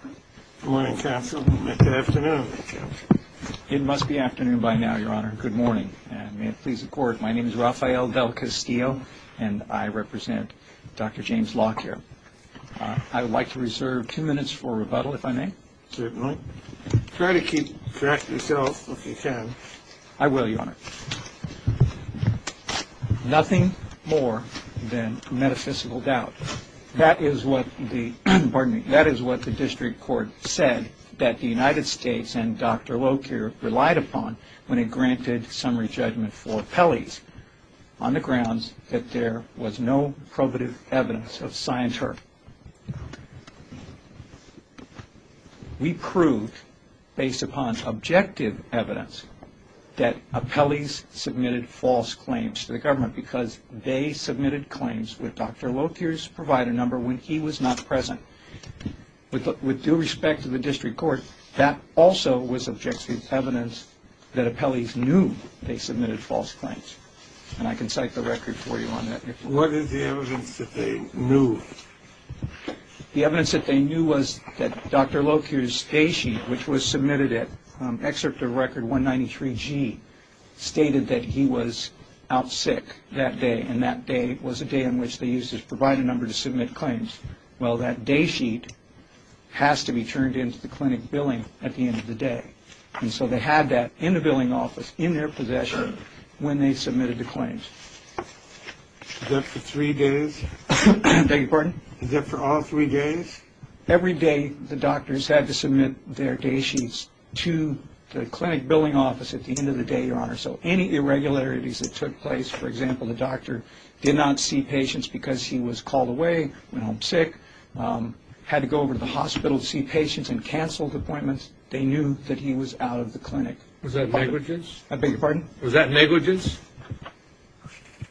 Good morning, Counsel. Good afternoon, Counsel. It must be afternoon by now, Your Honor. Good morning. May it please the Court, my name is Rafael Del Castillo, and I represent Dr. James Locke here. I would like to reserve two minutes for rebuttal, if I may. Certainly. Try to keep track of yourself if you can. I will, Your Honor. Nothing more than metaphysical doubt. That is what the District Court said that the United States and Dr. Locke here relied upon when it granted summary judgment for appellees, on the grounds that there was no probative evidence of scienture. We proved, based upon objective evidence, that appellees submitted false claims to the government because they submitted claims with Dr. Locke here's provider number when he was not present. With due respect to the District Court, that also was objective evidence that appellees knew they submitted false claims. And I can cite the record for you on that. What is the evidence that they knew? The evidence that they knew was that Dr. Locke here's day sheet, which was submitted at excerpt of Record 193G, stated that he was out sick that day, and that day was a day in which they used his provider number to submit claims. Well, that day sheet has to be turned into the clinic billing at the end of the day. And so they had that in the billing office in their possession when they submitted the claims. Is that for three days? Beg your pardon? Is that for all three days? Every day the doctors had to submit their day sheets to the clinic billing office at the end of the day, Your Honor. So any irregularities that took place, for example, the doctor did not see patients because he was called away, went home sick, had to go over to the hospital to see patients and canceled appointments, they knew that he was out of the clinic. Was that negligence? I beg your pardon? Was that negligence?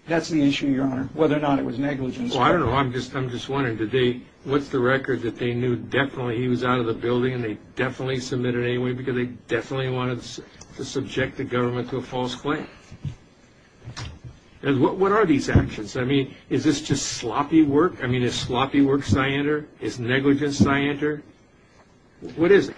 That's the issue, Your Honor, whether or not it was negligence. Well, I don't know. I'm just wondering, what's the record that they knew definitely he was out of the building and they definitely submitted it anyway because they definitely wanted to subject the government to a false claim? What are these actions? I mean, is this just sloppy work? I mean, is sloppy work scienter? Is negligence scienter? What is it?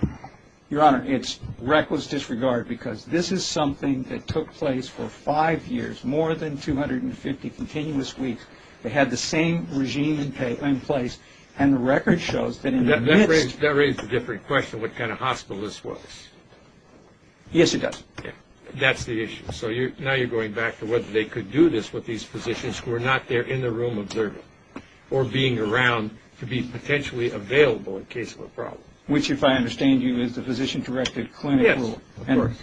Your Honor, it's reckless disregard because this is something that took place for five years, more than 250 continuous weeks. They had the same regime in place, and the record shows that in the midst of this. That raises a different question, what kind of hospital this was. Yes, it does. That's the issue. So now you're going back to whether they could do this with these physicians who were not there in the room observing or being around to be potentially available in case of a problem. Which, if I understand you, is the physician-directed clinic rule. Yes, of course.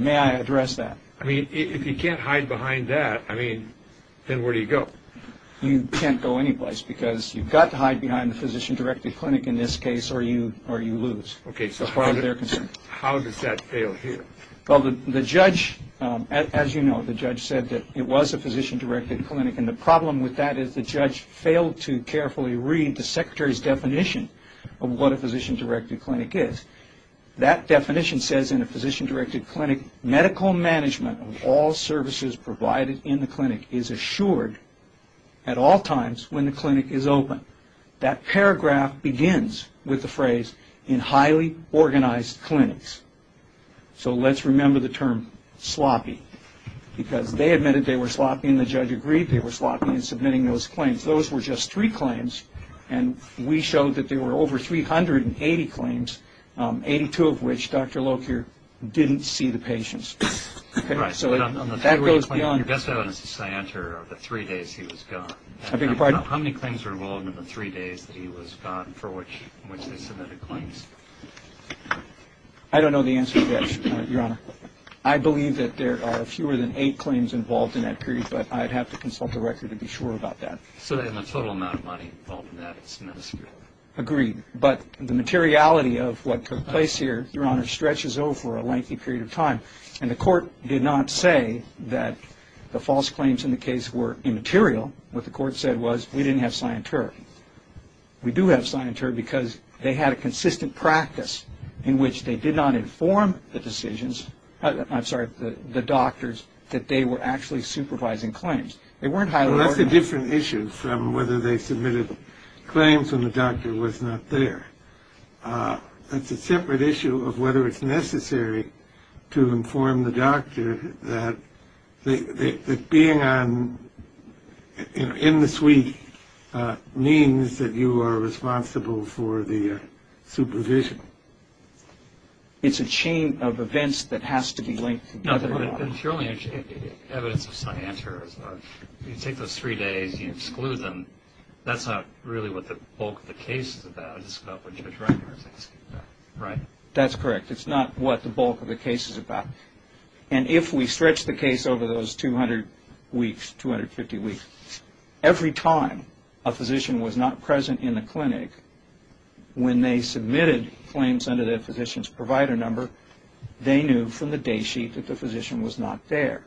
May I address that? I mean, if you can't hide behind that, I mean, then where do you go? You can't go anyplace because you've got to hide behind the physician-directed clinic in this case or you lose. Okay. That's part of their concern. How does that fail here? Well, the judge, as you know, the judge said that it was a physician-directed clinic, and the problem with that is the judge failed to carefully read the secretary's definition of what a physician-directed clinic is. That definition says in a physician-directed clinic, medical management of all services provided in the clinic is assured at all times when the clinic is open. That paragraph begins with the phrase, in highly organized clinics. So let's remember the term sloppy because they admitted they were sloppy and the judge agreed. They were sloppy in submitting those claims. Those were just three claims, and we showed that there were over 380 claims, 82 of which Dr. Locher didn't see the patients. Right. So that goes beyond. Your best evidence to say I answer are the three days he was gone. I beg your pardon? How many claims were involved in the three days that he was gone for which they submitted claims? I don't know the answer to that, Your Honor. I believe that there are fewer than eight claims involved in that period, but I'd have to consult the record to be sure about that. So then the total amount of money involved in that is minuscule. Agreed. But the materiality of what took place here, Your Honor, stretches over a lengthy period of time, and the court did not say that the false claims in the case were immaterial. What the court said was we didn't have scienturic. We do have scienturic because they had a consistent practice in which they did not inform the decisions, I'm sorry, the doctors that they were actually supervising claims. They weren't highly organized. Well, that's a different issue from whether they submitted claims when the doctor was not there. That's a separate issue of whether it's necessary to inform the doctor that being on, in the suite, means that you are responsible for the supervision. It's a chain of events that has to be linked together. No, but surely evidence of scienturism, you take those three days, you exclude them, that's not really what the bulk of the case is about. It's not what Judge Reiner is asking about. Right. That's correct. It's not what the bulk of the case is about. And if we stretch the case over those 200 weeks, 250 weeks, every time a physician was not present in the clinic, when they submitted claims under their physician's provider number, they knew from the day sheet that the physician was not there.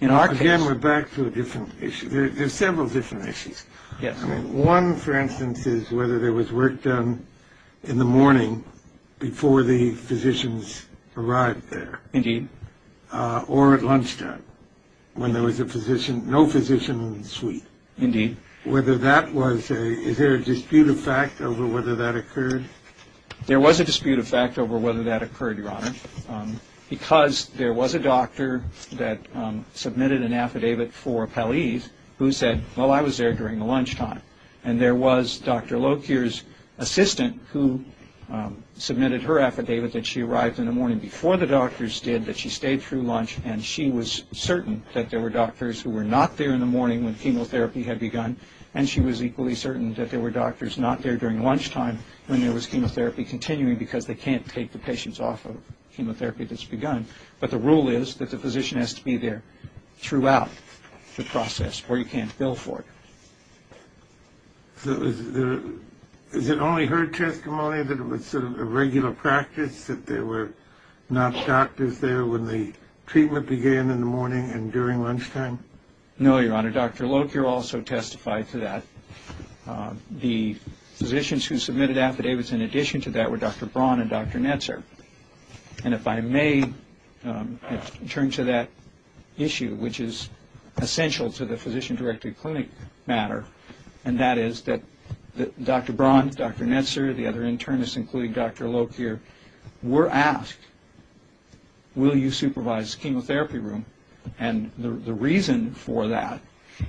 Again, we're back to a different issue. There's several different issues. Yes. One, for instance, is whether there was work done in the morning before the physicians arrived there. Indeed. Or at lunchtime when there was a physician, no physician in the suite. Indeed. Whether that was a, is there a dispute of fact over whether that occurred? There was a dispute of fact over whether that occurred, Your Honor, because there was a doctor that submitted an affidavit for Pelleas who said, well, I was there during the lunchtime. And there was Dr. Lokir's assistant who submitted her affidavit that she arrived in the morning before the doctors did, that she stayed through lunch, and she was certain that there were doctors who were not there in the morning when chemotherapy had begun, and she was equally certain that there were doctors not there during lunchtime when there was chemotherapy continuing because they can't take the patients off of chemotherapy that's begun. But the rule is that the physician has to be there throughout the process or you can't bill for it. So is it only her testimony that it was sort of a regular practice that there were not doctors there when the treatment began in the morning and during lunchtime? No, Your Honor. Dr. Lokir also testified to that. The physicians who submitted affidavits in addition to that were Dr. Braun and Dr. Netzer. And if I may turn to that issue, which is essential to the physician-directed clinic matter, and that is that Dr. Braun, Dr. Netzer, the other internists, including Dr. Lokir, were asked, will you supervise the chemotherapy room? And the reason for that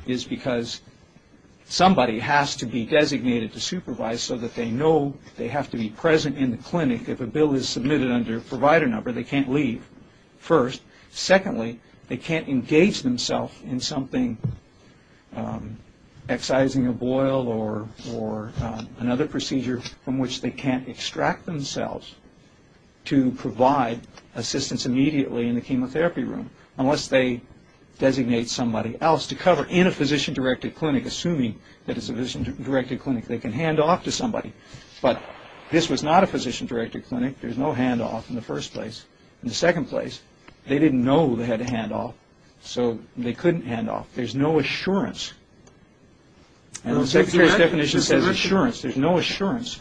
is because somebody has to be designated to supervise so that they know they have to be present in the clinic. If a bill is submitted under a provider number, they can't leave first. Secondly, they can't engage themselves in something, excising a boil or another procedure from which they can't extract themselves to provide assistance immediately in the chemotherapy room unless they designate somebody else to cover in a physician-directed clinic, assuming that it's a physician-directed clinic. They can hand off to somebody. But this was not a physician-directed clinic. There was no handoff in the first place. In the second place, they didn't know they had to hand off, so they couldn't hand off. There's no assurance. And the Secretary's definition says assurance. There's no assurance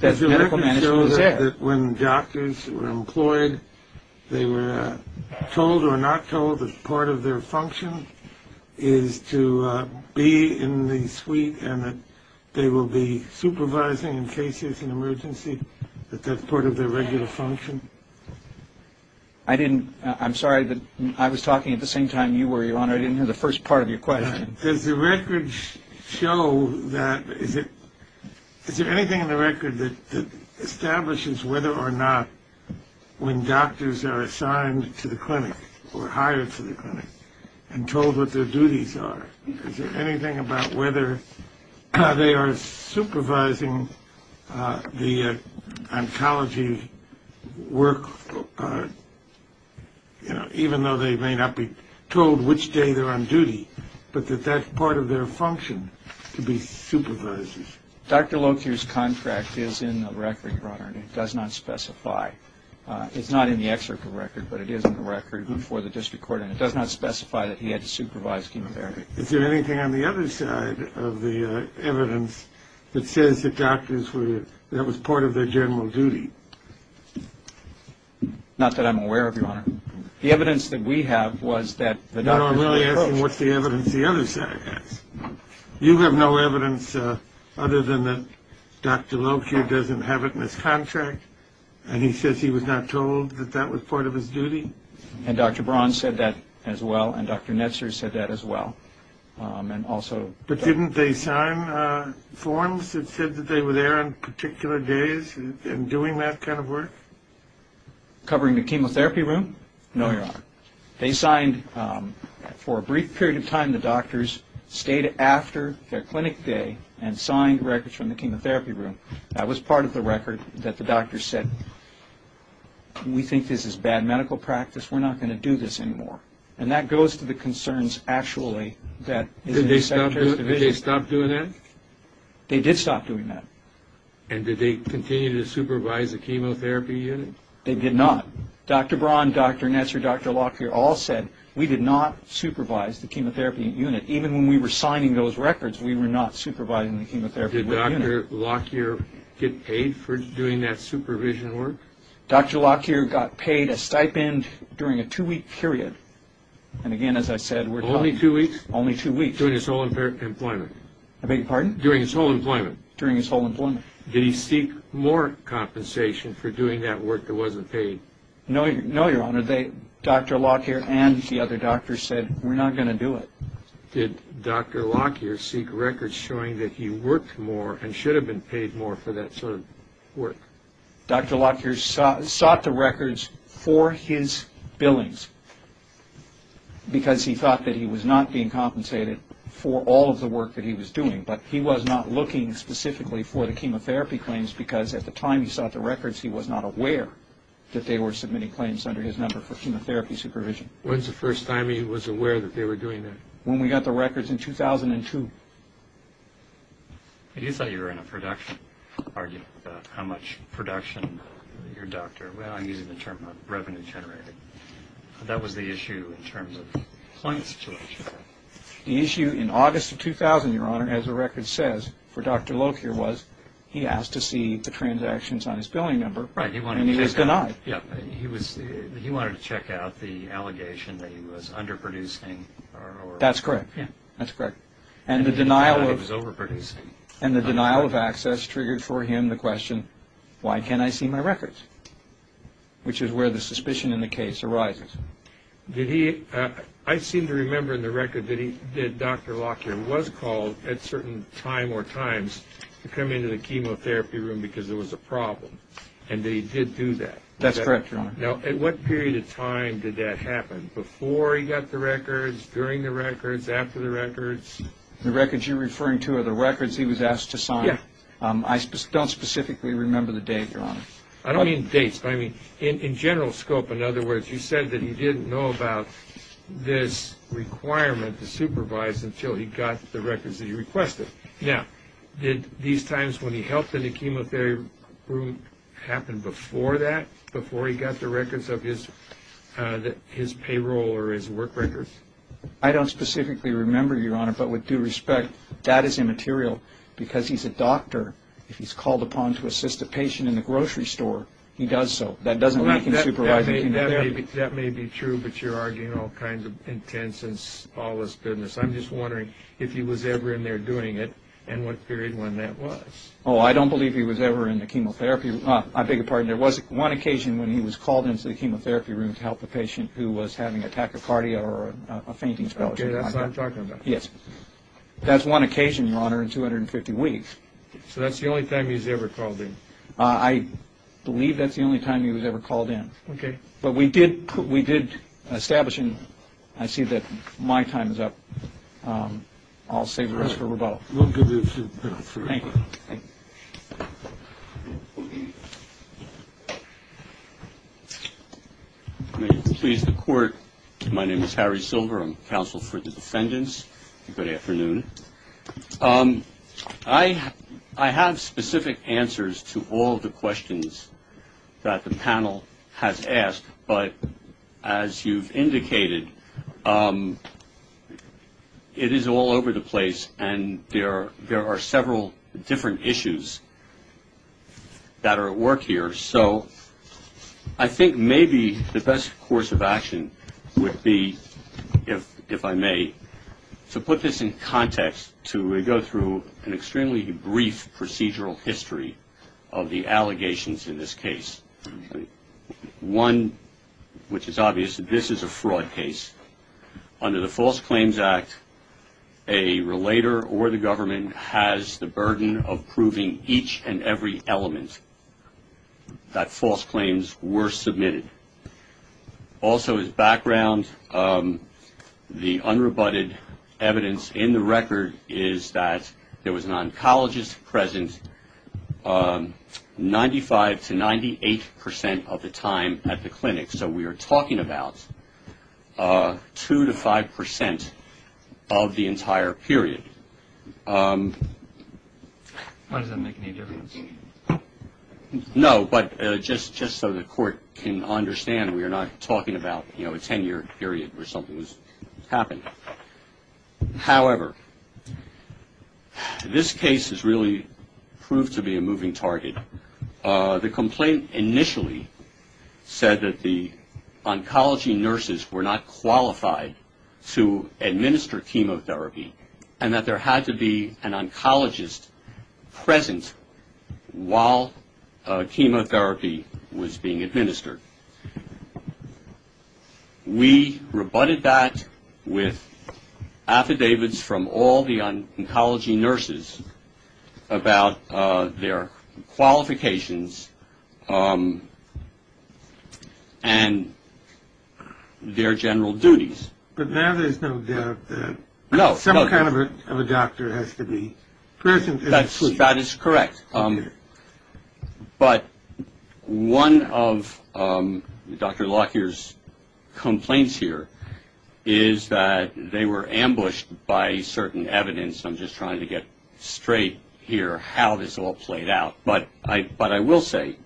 that medical management is there. Did you ever show that when doctors were employed, they were told or not told that part of their function is to be in the suite and that they will be supervising in case there's an emergency, that that's part of their regular function? I didn't. I'm sorry, but I was talking at the same time you were, Your Honor. I didn't hear the first part of your question. Does the record show that? Is there anything in the record that establishes whether or not when doctors are assigned to the clinic or hired to the clinic and told what their duties are? Is there anything about whether they are supervising the oncology work, you know, even though they may not be told which day they're on duty, but that that's part of their function to be supervisors? Dr. Locke's contract is in the record, Your Honor, and it does not specify. It's not in the excerpt of the record, but it is in the record before the district court, and it does not specify that he had to supervise chemotherapy. Is there anything on the other side of the evidence that says that doctors were ñ that was part of their general duty? Not that I'm aware of, Your Honor. The evidence that we have was that the doctors were ñ No, I'm really asking what's the evidence the other side has. You have no evidence other than that Dr. Locke here doesn't have it in his contract, and he says he was not told that that was part of his duty? And Dr. Braun said that as well, and Dr. Netzer said that as well, and also ñ But didn't they sign forms that said that they were there on particular days and doing that kind of work? Covering the chemotherapy room? No, Your Honor. They signed for a brief period of time, the doctors stayed after their clinic day and signed records from the chemotherapy room. That was part of the record that the doctors said, we think this is bad medical practice, we're not going to do this anymore. And that goes to the concerns actually that ñ Did they stop doing that? They did stop doing that. And did they continue to supervise the chemotherapy unit? They did not. Dr. Braun, Dr. Netzer, Dr. Locke here all said we did not supervise the chemotherapy unit. Even when we were signing those records, we were not supervising the chemotherapy unit. Did Dr. Locke here get paid for doing that supervision work? Dr. Locke here got paid a stipend during a two-week period. And again, as I said, we're ñ Only two weeks? Only two weeks. During his whole employment? I beg your pardon? During his whole employment? During his whole employment. Did he seek more compensation for doing that work that wasn't paid? No, Your Honor. Dr. Locke here and the other doctors said, we're not going to do it. Did Dr. Locke here seek records showing that he worked more and should have been paid more for that sort of work? Dr. Locke here sought the records for his billings because he thought that he was not being compensated for all of the work that he was doing. But he was not looking specifically for the chemotherapy claims because at the time he sought the records, he was not aware that they were submitting claims under his number for chemotherapy supervision. When was the first time he was aware that they were doing that? When we got the records in 2002. He thought you were in a production, arguing about how much production your doctor ñ well, I'm using the term revenue generated. That was the issue in terms of the employment situation. The issue in August of 2000, Your Honor, as the record says, for Dr. Locke here, was he asked to see the transactions on his billing number and he was denied. He wanted to check out the allegation that he was underproducing. That's correct. And the denial of access triggered for him the question, why can't I see my records? Which is where the suspicion in the case arises. I seem to remember in the record that Dr. Locke here was called at certain time or times to come into the chemotherapy room because there was a problem and that he did do that. That's correct, Your Honor. Now, at what period of time did that happen? Before he got the records, during the records, after the records? The records you're referring to are the records he was asked to sign. Yeah. I don't specifically remember the date, Your Honor. I don't mean dates. I mean, in general scope, in other words, you said that he didn't know about this requirement to supervise until he got the records that he requested. Now, did these times when he helped in the chemotherapy room happen before that, before he got the records of his payroll or his work records? I don't specifically remember, Your Honor, but with due respect, that is immaterial. Because he's a doctor, if he's called upon to assist a patient in the grocery store, he does so. That doesn't mean he can supervise chemotherapy. That may be true, but you're arguing all kinds of intense and spallous business. I'm just wondering if he was ever in there doing it and what period when that was. Oh, I don't believe he was ever in the chemotherapy room. I beg your pardon. There was one occasion when he was called into the chemotherapy room to help a patient who was having a tachycardia or a fainting spell or something like that. Okay, that's what I'm talking about. Yes. That's one occasion, Your Honor, in 250 weeks. So that's the only time he's ever called in? I believe that's the only time he was ever called in. Okay. But we did establish him. I see that my time is up. I'll save the rest for rebuttal. We'll give you a few minutes for rebuttal. Thank you. May it please the Court, my name is Harry Silver. I'm counsel for the defendants. Good afternoon. I have specific answers to all the questions that the panel has asked, but as you've indicated, it is all over the place and there are several different issues that are at work here. So I think maybe the best course of action would be, if I may, to put this in context to go through an extremely brief procedural history of the allegations in this case. One, which is obvious, this is a fraud case. Under the False Claims Act, a relator or the government has the burden of proving each and every element that false claims were submitted. Also as background, the unrebutted evidence in the record is that there was an oncologist present 95-98% of the time at the clinic. So we are talking about 2-5% of the entire period. Why does that make any difference? No, but just so the Court can understand, we are not talking about, you know, a 10-year period where something has happened. However, this case has really proved to be a moving target. The complaint initially said that the oncology nurses were not qualified to administer chemotherapy and that there had to be an oncologist present while chemotherapy was being administered. We rebutted that with affidavits from all the oncology nurses about their qualifications and their general duties. But now there's no doubt that some kind of a doctor has to be present. That is correct. But one of Dr. Lockyer's complaints here is that they were ambushed by certain evidence. I'm just trying to get straight here how this all played out. But I will say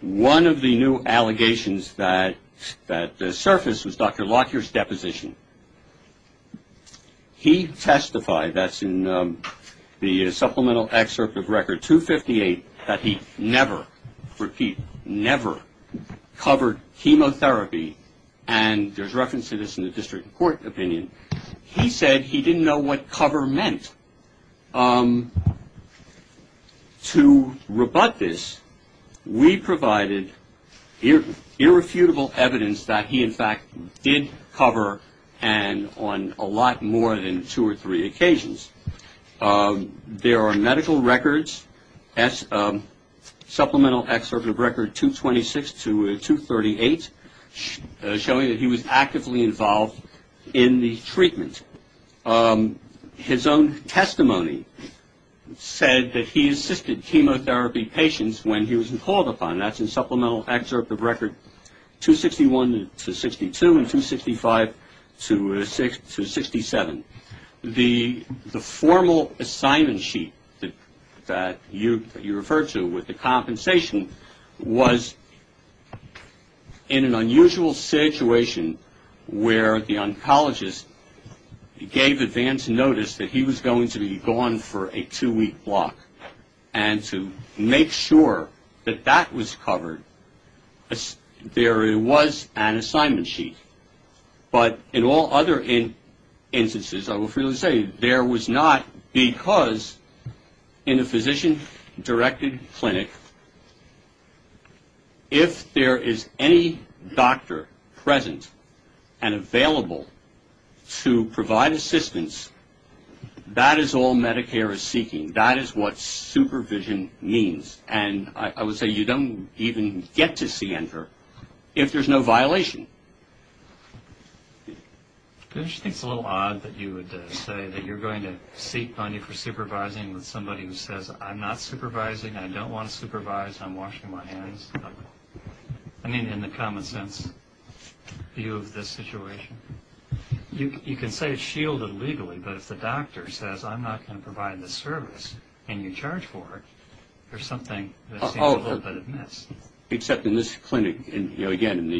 one of the new allegations that surfaced was Dr. Lockyer's deposition. He testified, that's in the supplemental excerpt of Record 258, that he never, repeat, never covered chemotherapy. And there's reference to this in the district court opinion. He said he didn't know what cover meant. To rebut this, we provided irrefutable evidence that he, in fact, did cover and on a lot more than two or three occasions. There are medical records, supplemental excerpt of Record 226 to 238, showing that he was actively involved in the treatment. His own testimony said that he assisted chemotherapy patients when he was called upon. That's in supplemental excerpt of Record 261 to 62 and 265 to 67. The formal assignment sheet that you referred to with the compensation was in an unusual situation where the oncologist gave advance notice that he was going to be gone for a two-week block. And to make sure that that was covered, there was an assignment sheet. But in all other instances, I will freely say, there was not because in a physician-directed clinic, if there is any doctor present and available to provide assistance, that is all Medicare is seeking. That is what supervision means. And I would say you don't even get to see ENDR if there's no violation. I just think it's a little odd that you would say that you're going to seek money for supervising with somebody who says, I'm not supervising, I don't want to supervise, I'm washing my hands. I mean, in the common sense view of this situation. You can say it's shielded legally, but if the doctor says, I'm not going to provide this service, and you charge for it, there's something that seems a little bit amiss. Except in this clinic, again, in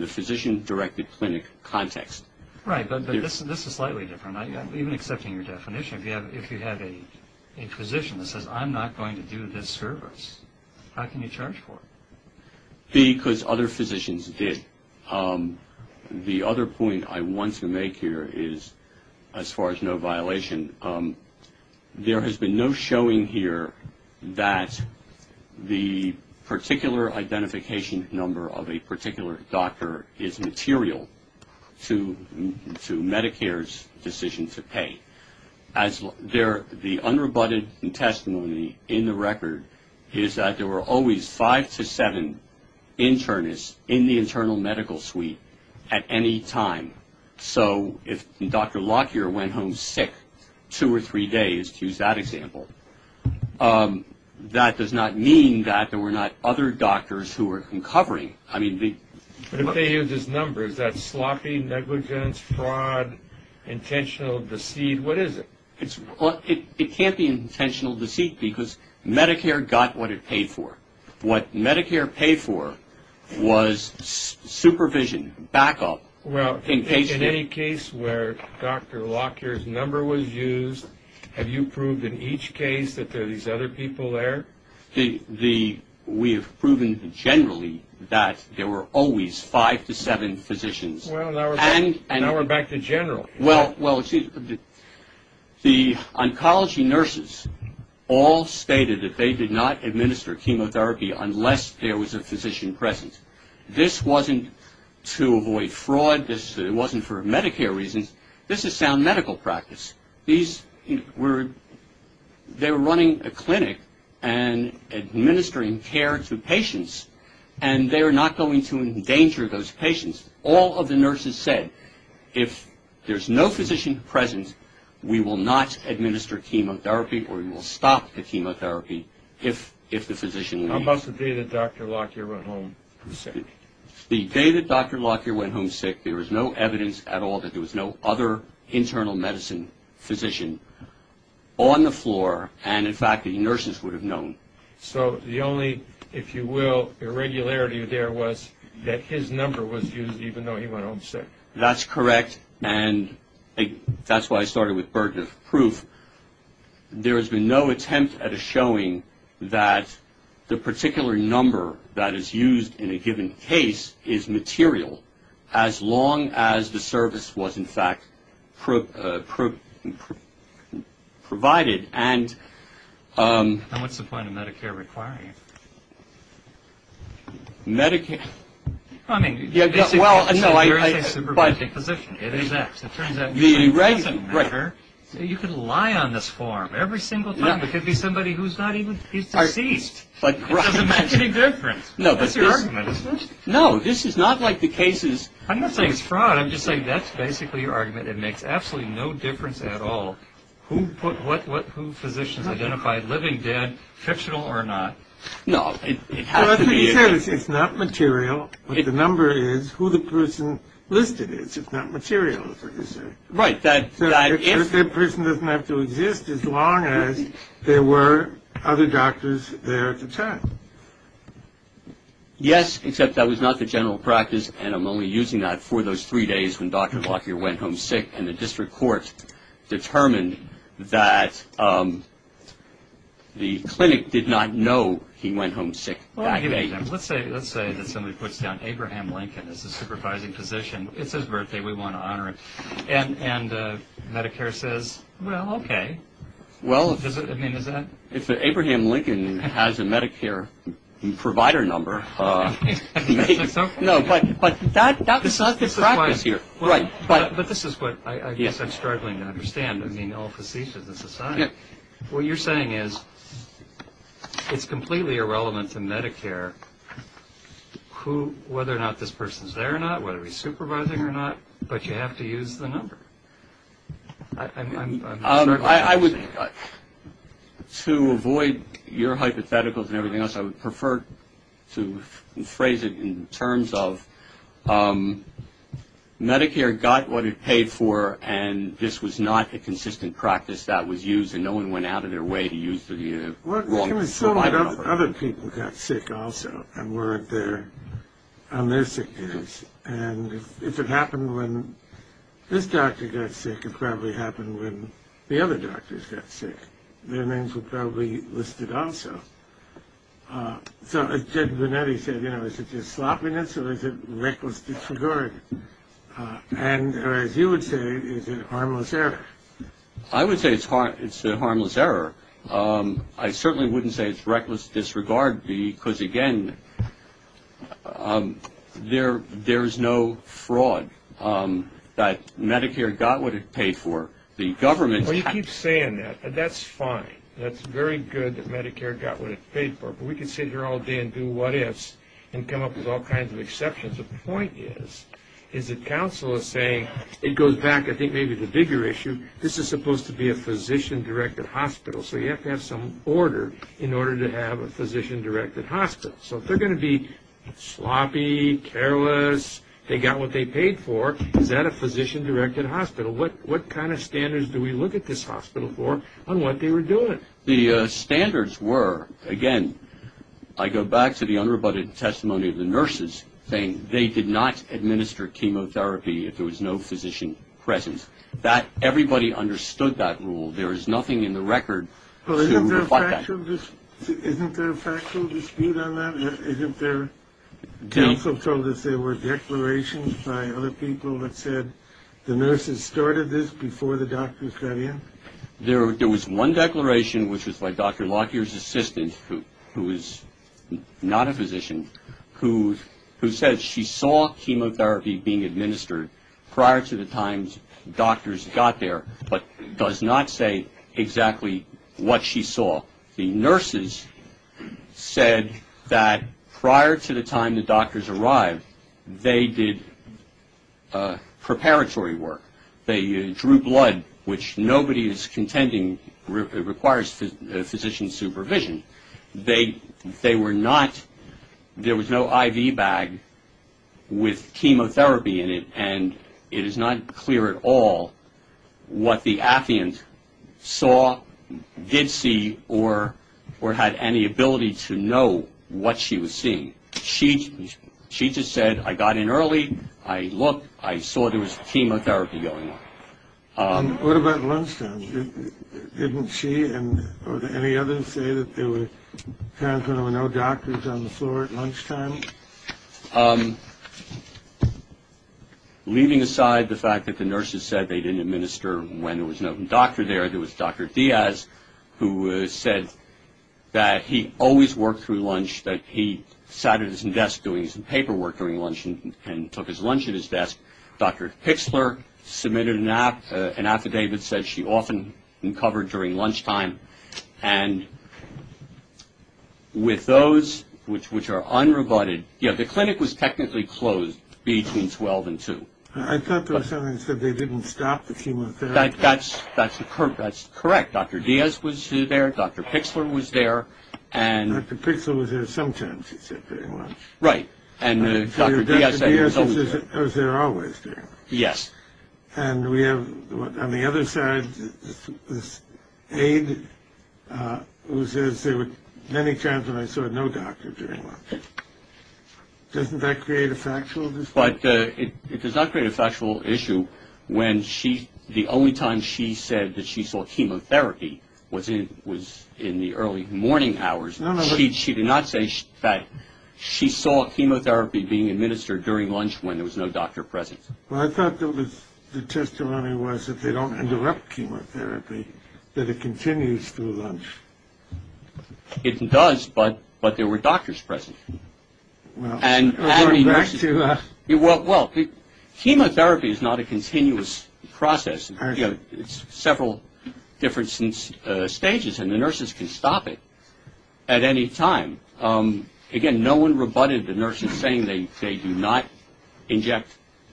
the physician-directed clinic context. Right, but this is slightly different. Even accepting your definition, if you have a physician that says, I'm not going to do this service, how can you charge for it? Because other physicians did. The other point I want to make here is, as far as no violation, there has been no showing here that the particular identification number of a particular doctor is material to Medicare's decision to pay. The unrebutted testimony in the record is that there were always five to seven internists in the internal medical suite at any time. So if Dr. Lockyer went home sick two or three days, to use that example, that does not mean that there were not other doctors who were uncovering. But if they use this number, is that sloppy negligence, fraud, intentional deceit? What is it? It can't be intentional deceit, because Medicare got what it paid for. What Medicare paid for was supervision, backup. Well, in any case where Dr. Lockyer's number was used, have you proved in each case that there are these other people there? We have proven generally that there were always five to seven physicians. Well, now we're back to general. Well, the oncology nurses all stated that they did not administer chemotherapy unless there was a physician present. This wasn't to avoid fraud. It wasn't for Medicare reasons. This is sound medical practice. They were running a clinic and administering care to patients, and they were not going to endanger those patients. All of the nurses said, if there's no physician present, we will not administer chemotherapy or we will stop the chemotherapy if the physician leaves. How about the day that Dr. Lockyer went home sick? The day that Dr. Lockyer went home sick, there was no evidence at all that there was no other internal medicine physician on the floor, and, in fact, the nurses would have known. So the only, if you will, irregularity there was that his number was used even though he went home sick. That's correct, and that's why I started with burden of proof. There has been no attempt at a showing that the particular number that is used in a given case is material, as long as the service was, in fact, provided. And what's the point of Medicare requiring it? Medicare? Well, I mean, you're a supervising physician. It is that. It turns out you can lie on this form every single time. It could be somebody who's not even, he's deceased. It doesn't make any difference. That's your argument, isn't it? No, this is not like the cases. I'm not saying it's fraud. I'm just saying that's basically your argument. It makes absolutely no difference at all. What physicians identified living, dead, fictional, or not? No, it has to be. It's not material, but the number is who the person listed is. It's not material, is what you're saying. Right. That person doesn't have to exist as long as there were other doctors there at the time. Yes, except that was not the general practice, and I'm only using that for those three days when Dr. Blocker went home sick and the district court determined that the clinic did not know he went home sick that day. Let's say that somebody puts down Abraham Lincoln as a supervising physician. It's his birthday. We want to honor him. And Medicare says, well, okay. Well, if Abraham Lincoln has a Medicare provider number. No, but that's not the practice here. Right. But this is what I guess I'm struggling to understand. I mean, all physicians in society. What you're saying is it's completely irrelevant to Medicare whether or not this person is there or not, whether he's supervising or not, but you have to use the number. I'm sorry. To avoid your hypotheticals and everything else, I would prefer to phrase it in terms of Medicare got what it paid for and this was not a consistent practice that was used, and no one went out of their way to use the wrong provider number. Well, other people got sick also and weren't there on their sick days. And if it happened when this doctor got sick, it probably happened when the other doctors got sick. Their names were probably listed also. So as Ted Burnett said, you know, is it just sloppiness or is it reckless disregard? And as you would say, is it a harmless error? I would say it's a harmless error. I certainly wouldn't say it's reckless disregard because, again, there's no fraud that Medicare got what it paid for. The government's had- Well, you keep saying that. That's fine. That's very good that Medicare got what it paid for, but we can sit here all day and do what ifs and come up with all kinds of exceptions. The point is, is that counsel is saying it goes back, I think maybe the bigger issue, this is supposed to be a physician-directed hospital, so you have to have some order in order to have a physician-directed hospital. So if they're going to be sloppy, careless, they got what they paid for, is that a physician-directed hospital? What kind of standards do we look at this hospital for on what they were doing? The standards were, again, I go back to the unrebutted testimony of the nurses saying they did not administer chemotherapy if there was no physician present. Everybody understood that rule. There is nothing in the record to reflect that. Well, isn't there a factual dispute on that? Isn't there- Counsel told us there were declarations by other people that said the nurses started this before the doctors got in? There was one declaration, which was by Dr. Lockyer's assistant, who is not a physician, who says she saw chemotherapy being administered prior to the time doctors got there, but does not say exactly what she saw. The nurses said that prior to the time the doctors arrived, they did preparatory work. They drew blood, which nobody is contending requires physician supervision. They were not-there was no IV bag with chemotherapy in it, and it is not clear at all what the affiant saw, did see, or had any ability to know what she was seeing. She just said, I got in early, I looked, I saw there was chemotherapy going on. What about lunchtime? Didn't she or any others say that there were no doctors on the floor at lunchtime? Leaving aside the fact that the nurses said they didn't administer when there was no doctor there, there was Dr. Diaz, who said that he always worked through lunch, that he sat at his desk doing his paperwork during lunch and took his lunch at his desk. Dr. Pixler submitted an affidavit that said she often covered during lunchtime, and with those which are unreported, you know, the clinic was technically closed between 12 and 2. I thought there was something that said they didn't stop the chemotherapy. That's correct. Dr. Diaz was there, Dr. Pixler was there. Dr. Pixler was there sometimes, he said very much. Right. And Dr. Diaz said he was always there. Dr. Diaz was there always during lunch. Yes. And we have on the other side this aide who says there were many times when I saw no doctor during lunch. Doesn't that create a factual dispute? But it does not create a factual issue when the only time she said that she saw chemotherapy was in the early morning hours. No, no. She did not say that she saw chemotherapy being administered during lunch when there was no doctor present. Well, I thought the testimony was if they don't interrupt chemotherapy, that it continues through lunch. It does, but there were doctors present. Well, back to... Well, chemotherapy is not a continuous process. It's several different stages, and the nurses can stop it at any time. Again, no one rebutted the nurses saying they do not inject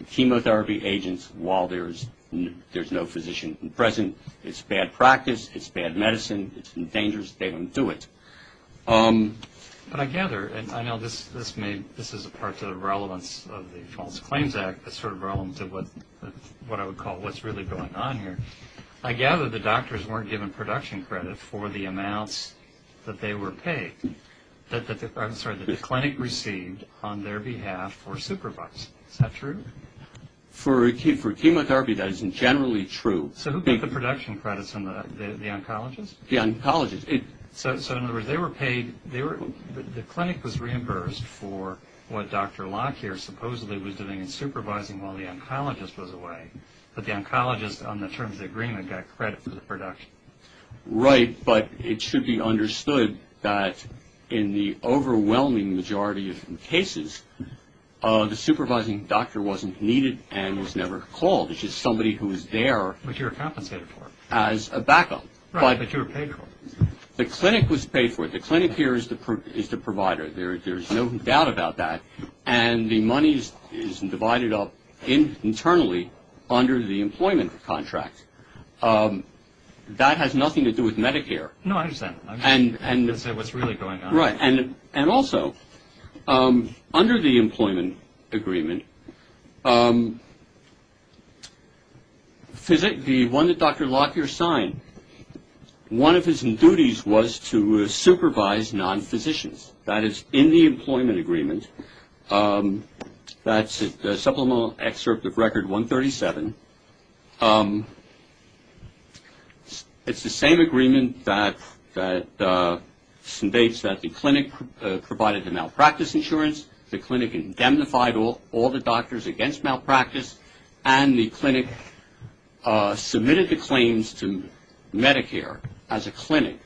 chemotherapy agents while there's no physician present. It's bad practice. It's bad medicine. It's dangerous. They don't do it. But I gather, and I know this is a part of the relevance of the False Claims Act, a sort of relevance of what I would call what's really going on here, I gather the doctors weren't given production credit for the amounts that they were paid, I'm sorry, that the clinic received on their behalf for supervising. Is that true? For chemotherapy, that isn't generally true. So who paid the production credits? The oncologists? The oncologists. So in other words, they were paid, the clinic was reimbursed for what Dr. Locke here supposedly was doing in supervising while the oncologist was away, but the oncologist on the terms of the agreement got credit for the production. Right, but it should be understood that in the overwhelming majority of cases, the supervising doctor wasn't needed and was never called. It's just somebody who was there... Which you were compensated for. As a backup. Right, but you were paid for it. The clinic was paid for it. The clinic here is the provider. There's no doubt about that. And the money is divided up internally under the employment contract. That has nothing to do with Medicare. No, I understand. That's what's really going on. Right, and also, under the employment agreement, the one that Dr. Locke here signed, one of his duties was to supervise non-physicians. That is, in the employment agreement, that's the supplemental excerpt of Record 137. It's the same agreement that states that the clinic provided the malpractice insurance, the clinic indemnified all the doctors against malpractice, and the clinic submitted the claims to Medicare as a clinic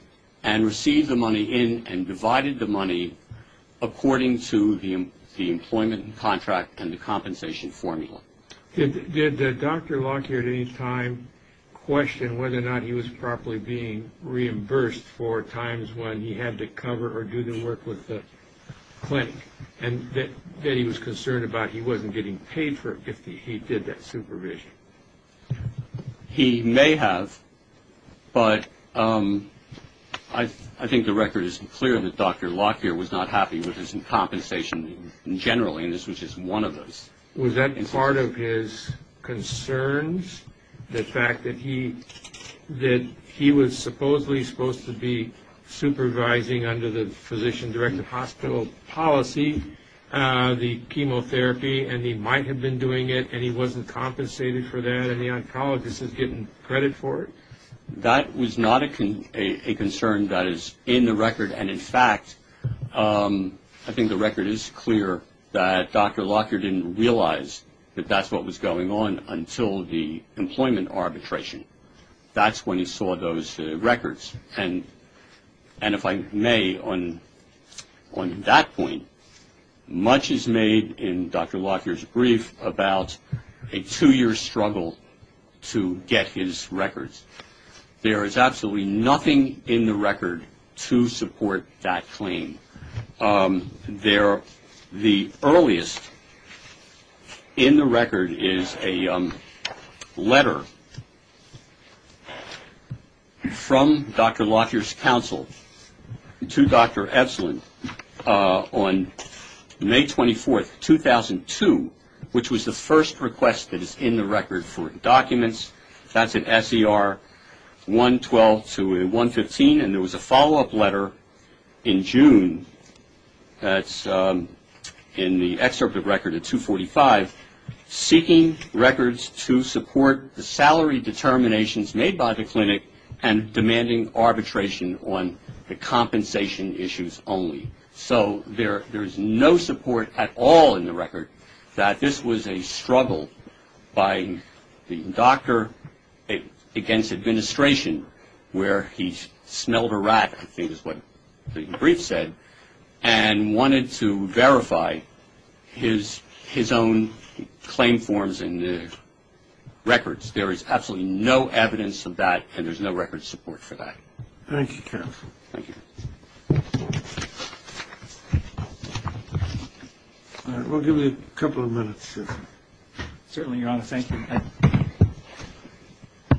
and received the money in and divided the money according to the employment contract and the compensation formula. Did Dr. Locke here at any time question whether or not he was properly being reimbursed for times when he had to cover or do the work with the clinic and that he was concerned about he wasn't getting paid for it if he did that supervision? He may have, but I think the record is clear that Dr. Locke here was not happy with his compensation in general, and this was just one of those. Was that part of his concerns, the fact that he was supposedly supposed to be supervising under the physician-directed hospital policy the chemotherapy and he might have been doing it and he wasn't compensated for that and the oncologist is getting credit for it? That was not a concern that is in the record, and in fact, I think the record is clear that Dr. Locke here didn't realize that that's what was going on until the employment arbitration. That's when he saw those records, and if I may, on that point, much is made in Dr. Locke here's brief about a two-year struggle to get his records. There is absolutely nothing in the record to support that claim. The earliest in the record is a letter from Dr. Locke here's counsel to Dr. Epsilon on May 24, 2002, which was the first request that is in the record for documents. That's in SER 112 to 115, and there was a follow-up letter in June that's in the excerpt of the record at 245, seeking records to support the salary determinations made by the clinic and demanding arbitration on the compensation issues only. So there is no support at all in the record that this was a struggle by the doctor against administration where he smelled a rat, I think is what the brief said, and wanted to verify his own claim forms in the records. There is absolutely no evidence of that, and there's no record support for that. Thank you, counsel. Thank you. All right, we'll give you a couple of minutes. Certainly, Your Honor, thank you.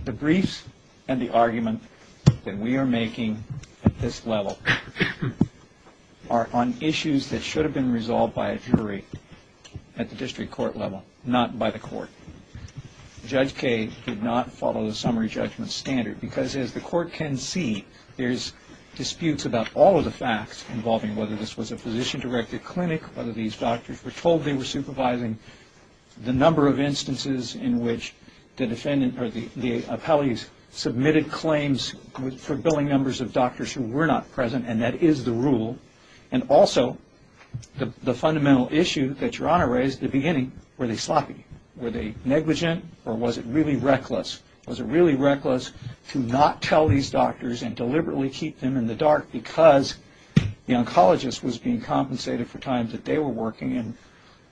The briefs and the argument that we are making at this level are on issues that should have been resolved by a jury at the district court level, not by the court. Judge Kaye did not follow the summary judgment standard because, as the court can see, there's disputes about all of the facts involving whether this was a physician-directed clinic, whether these doctors were told they were supervising, the number of instances in which the defendant or the appellees submitted claims for billing numbers of doctors who were not present, and that is the rule. And also, the fundamental issue that Your Honor raised at the beginning, were they sloppy? Were they negligent, or was it really reckless? Was it really reckless to not tell these doctors and deliberately keep them in the dark because the oncologist was being compensated for time that they were working in?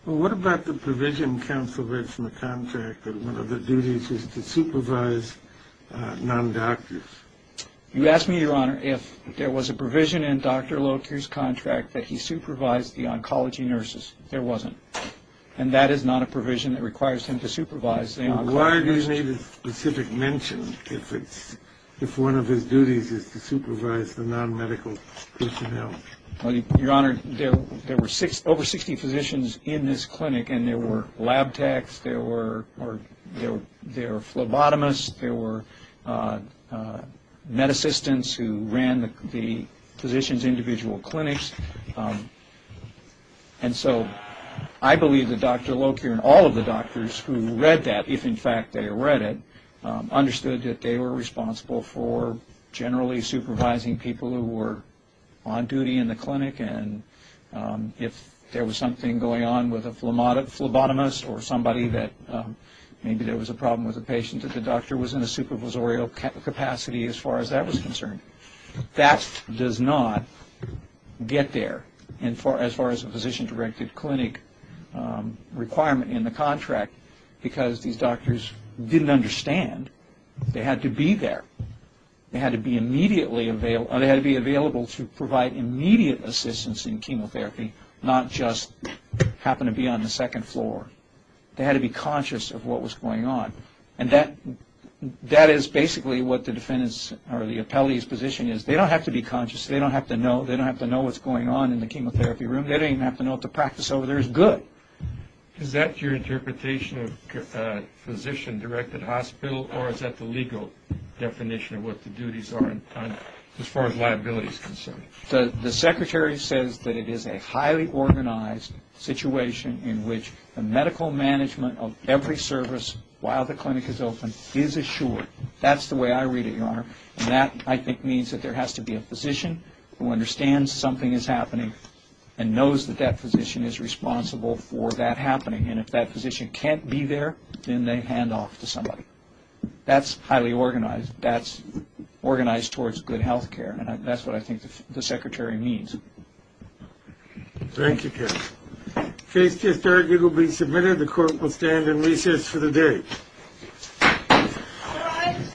Well, what about the provision, counsel, from the contract that one of the duties is to supervise non-doctors? You ask me, Your Honor, if there was a provision in Dr. Loker's contract that he supervised the oncology nurses. There wasn't. And that is not a provision that requires him to supervise the oncologist. Why do you need a specific mention if one of his duties is to supervise the non-medical personnel? Your Honor, there were over 60 physicians in this clinic, and there were lab techs, there were phlebotomists, there were med assistants who ran the physician's individual clinics. And so I believe that Dr. Loker and all of the doctors who read that, if in fact they read it, understood that they were responsible for generally supervising people who were on duty in the clinic, and if there was something going on with a phlebotomist or somebody that maybe there was a problem with a patient that the doctor was in a supervisorial capacity as far as that was concerned, that does not get there as far as a physician-directed clinic requirement in the contract, because these doctors didn't understand. They had to be there. They had to be immediately available. They had to be available to provide immediate assistance in chemotherapy, not just happen to be on the second floor. They had to be conscious of what was going on, and that is basically what the defendant's or the appellee's position is. They don't have to be conscious. They don't have to know. They don't have to know what's going on in the chemotherapy room. They don't even have to know what the practice over there is good. Is that your interpretation of physician-directed hospital, or is that the legal definition of what the duties are as far as liability is concerned? The secretary says that it is a highly organized situation in which the medical management of every service while the clinic is open is assured. That's the way I read it, Your Honor, and that I think means that there has to be a physician who understands something is happening and knows that that physician is responsible for that happening, and if that physician can't be there, then they hand off to somebody. That's highly organized. That's organized towards good health care, and that's what I think the secretary means. Thank you, Kevin. Case to start will be submitted. The court will stand in recess for the day.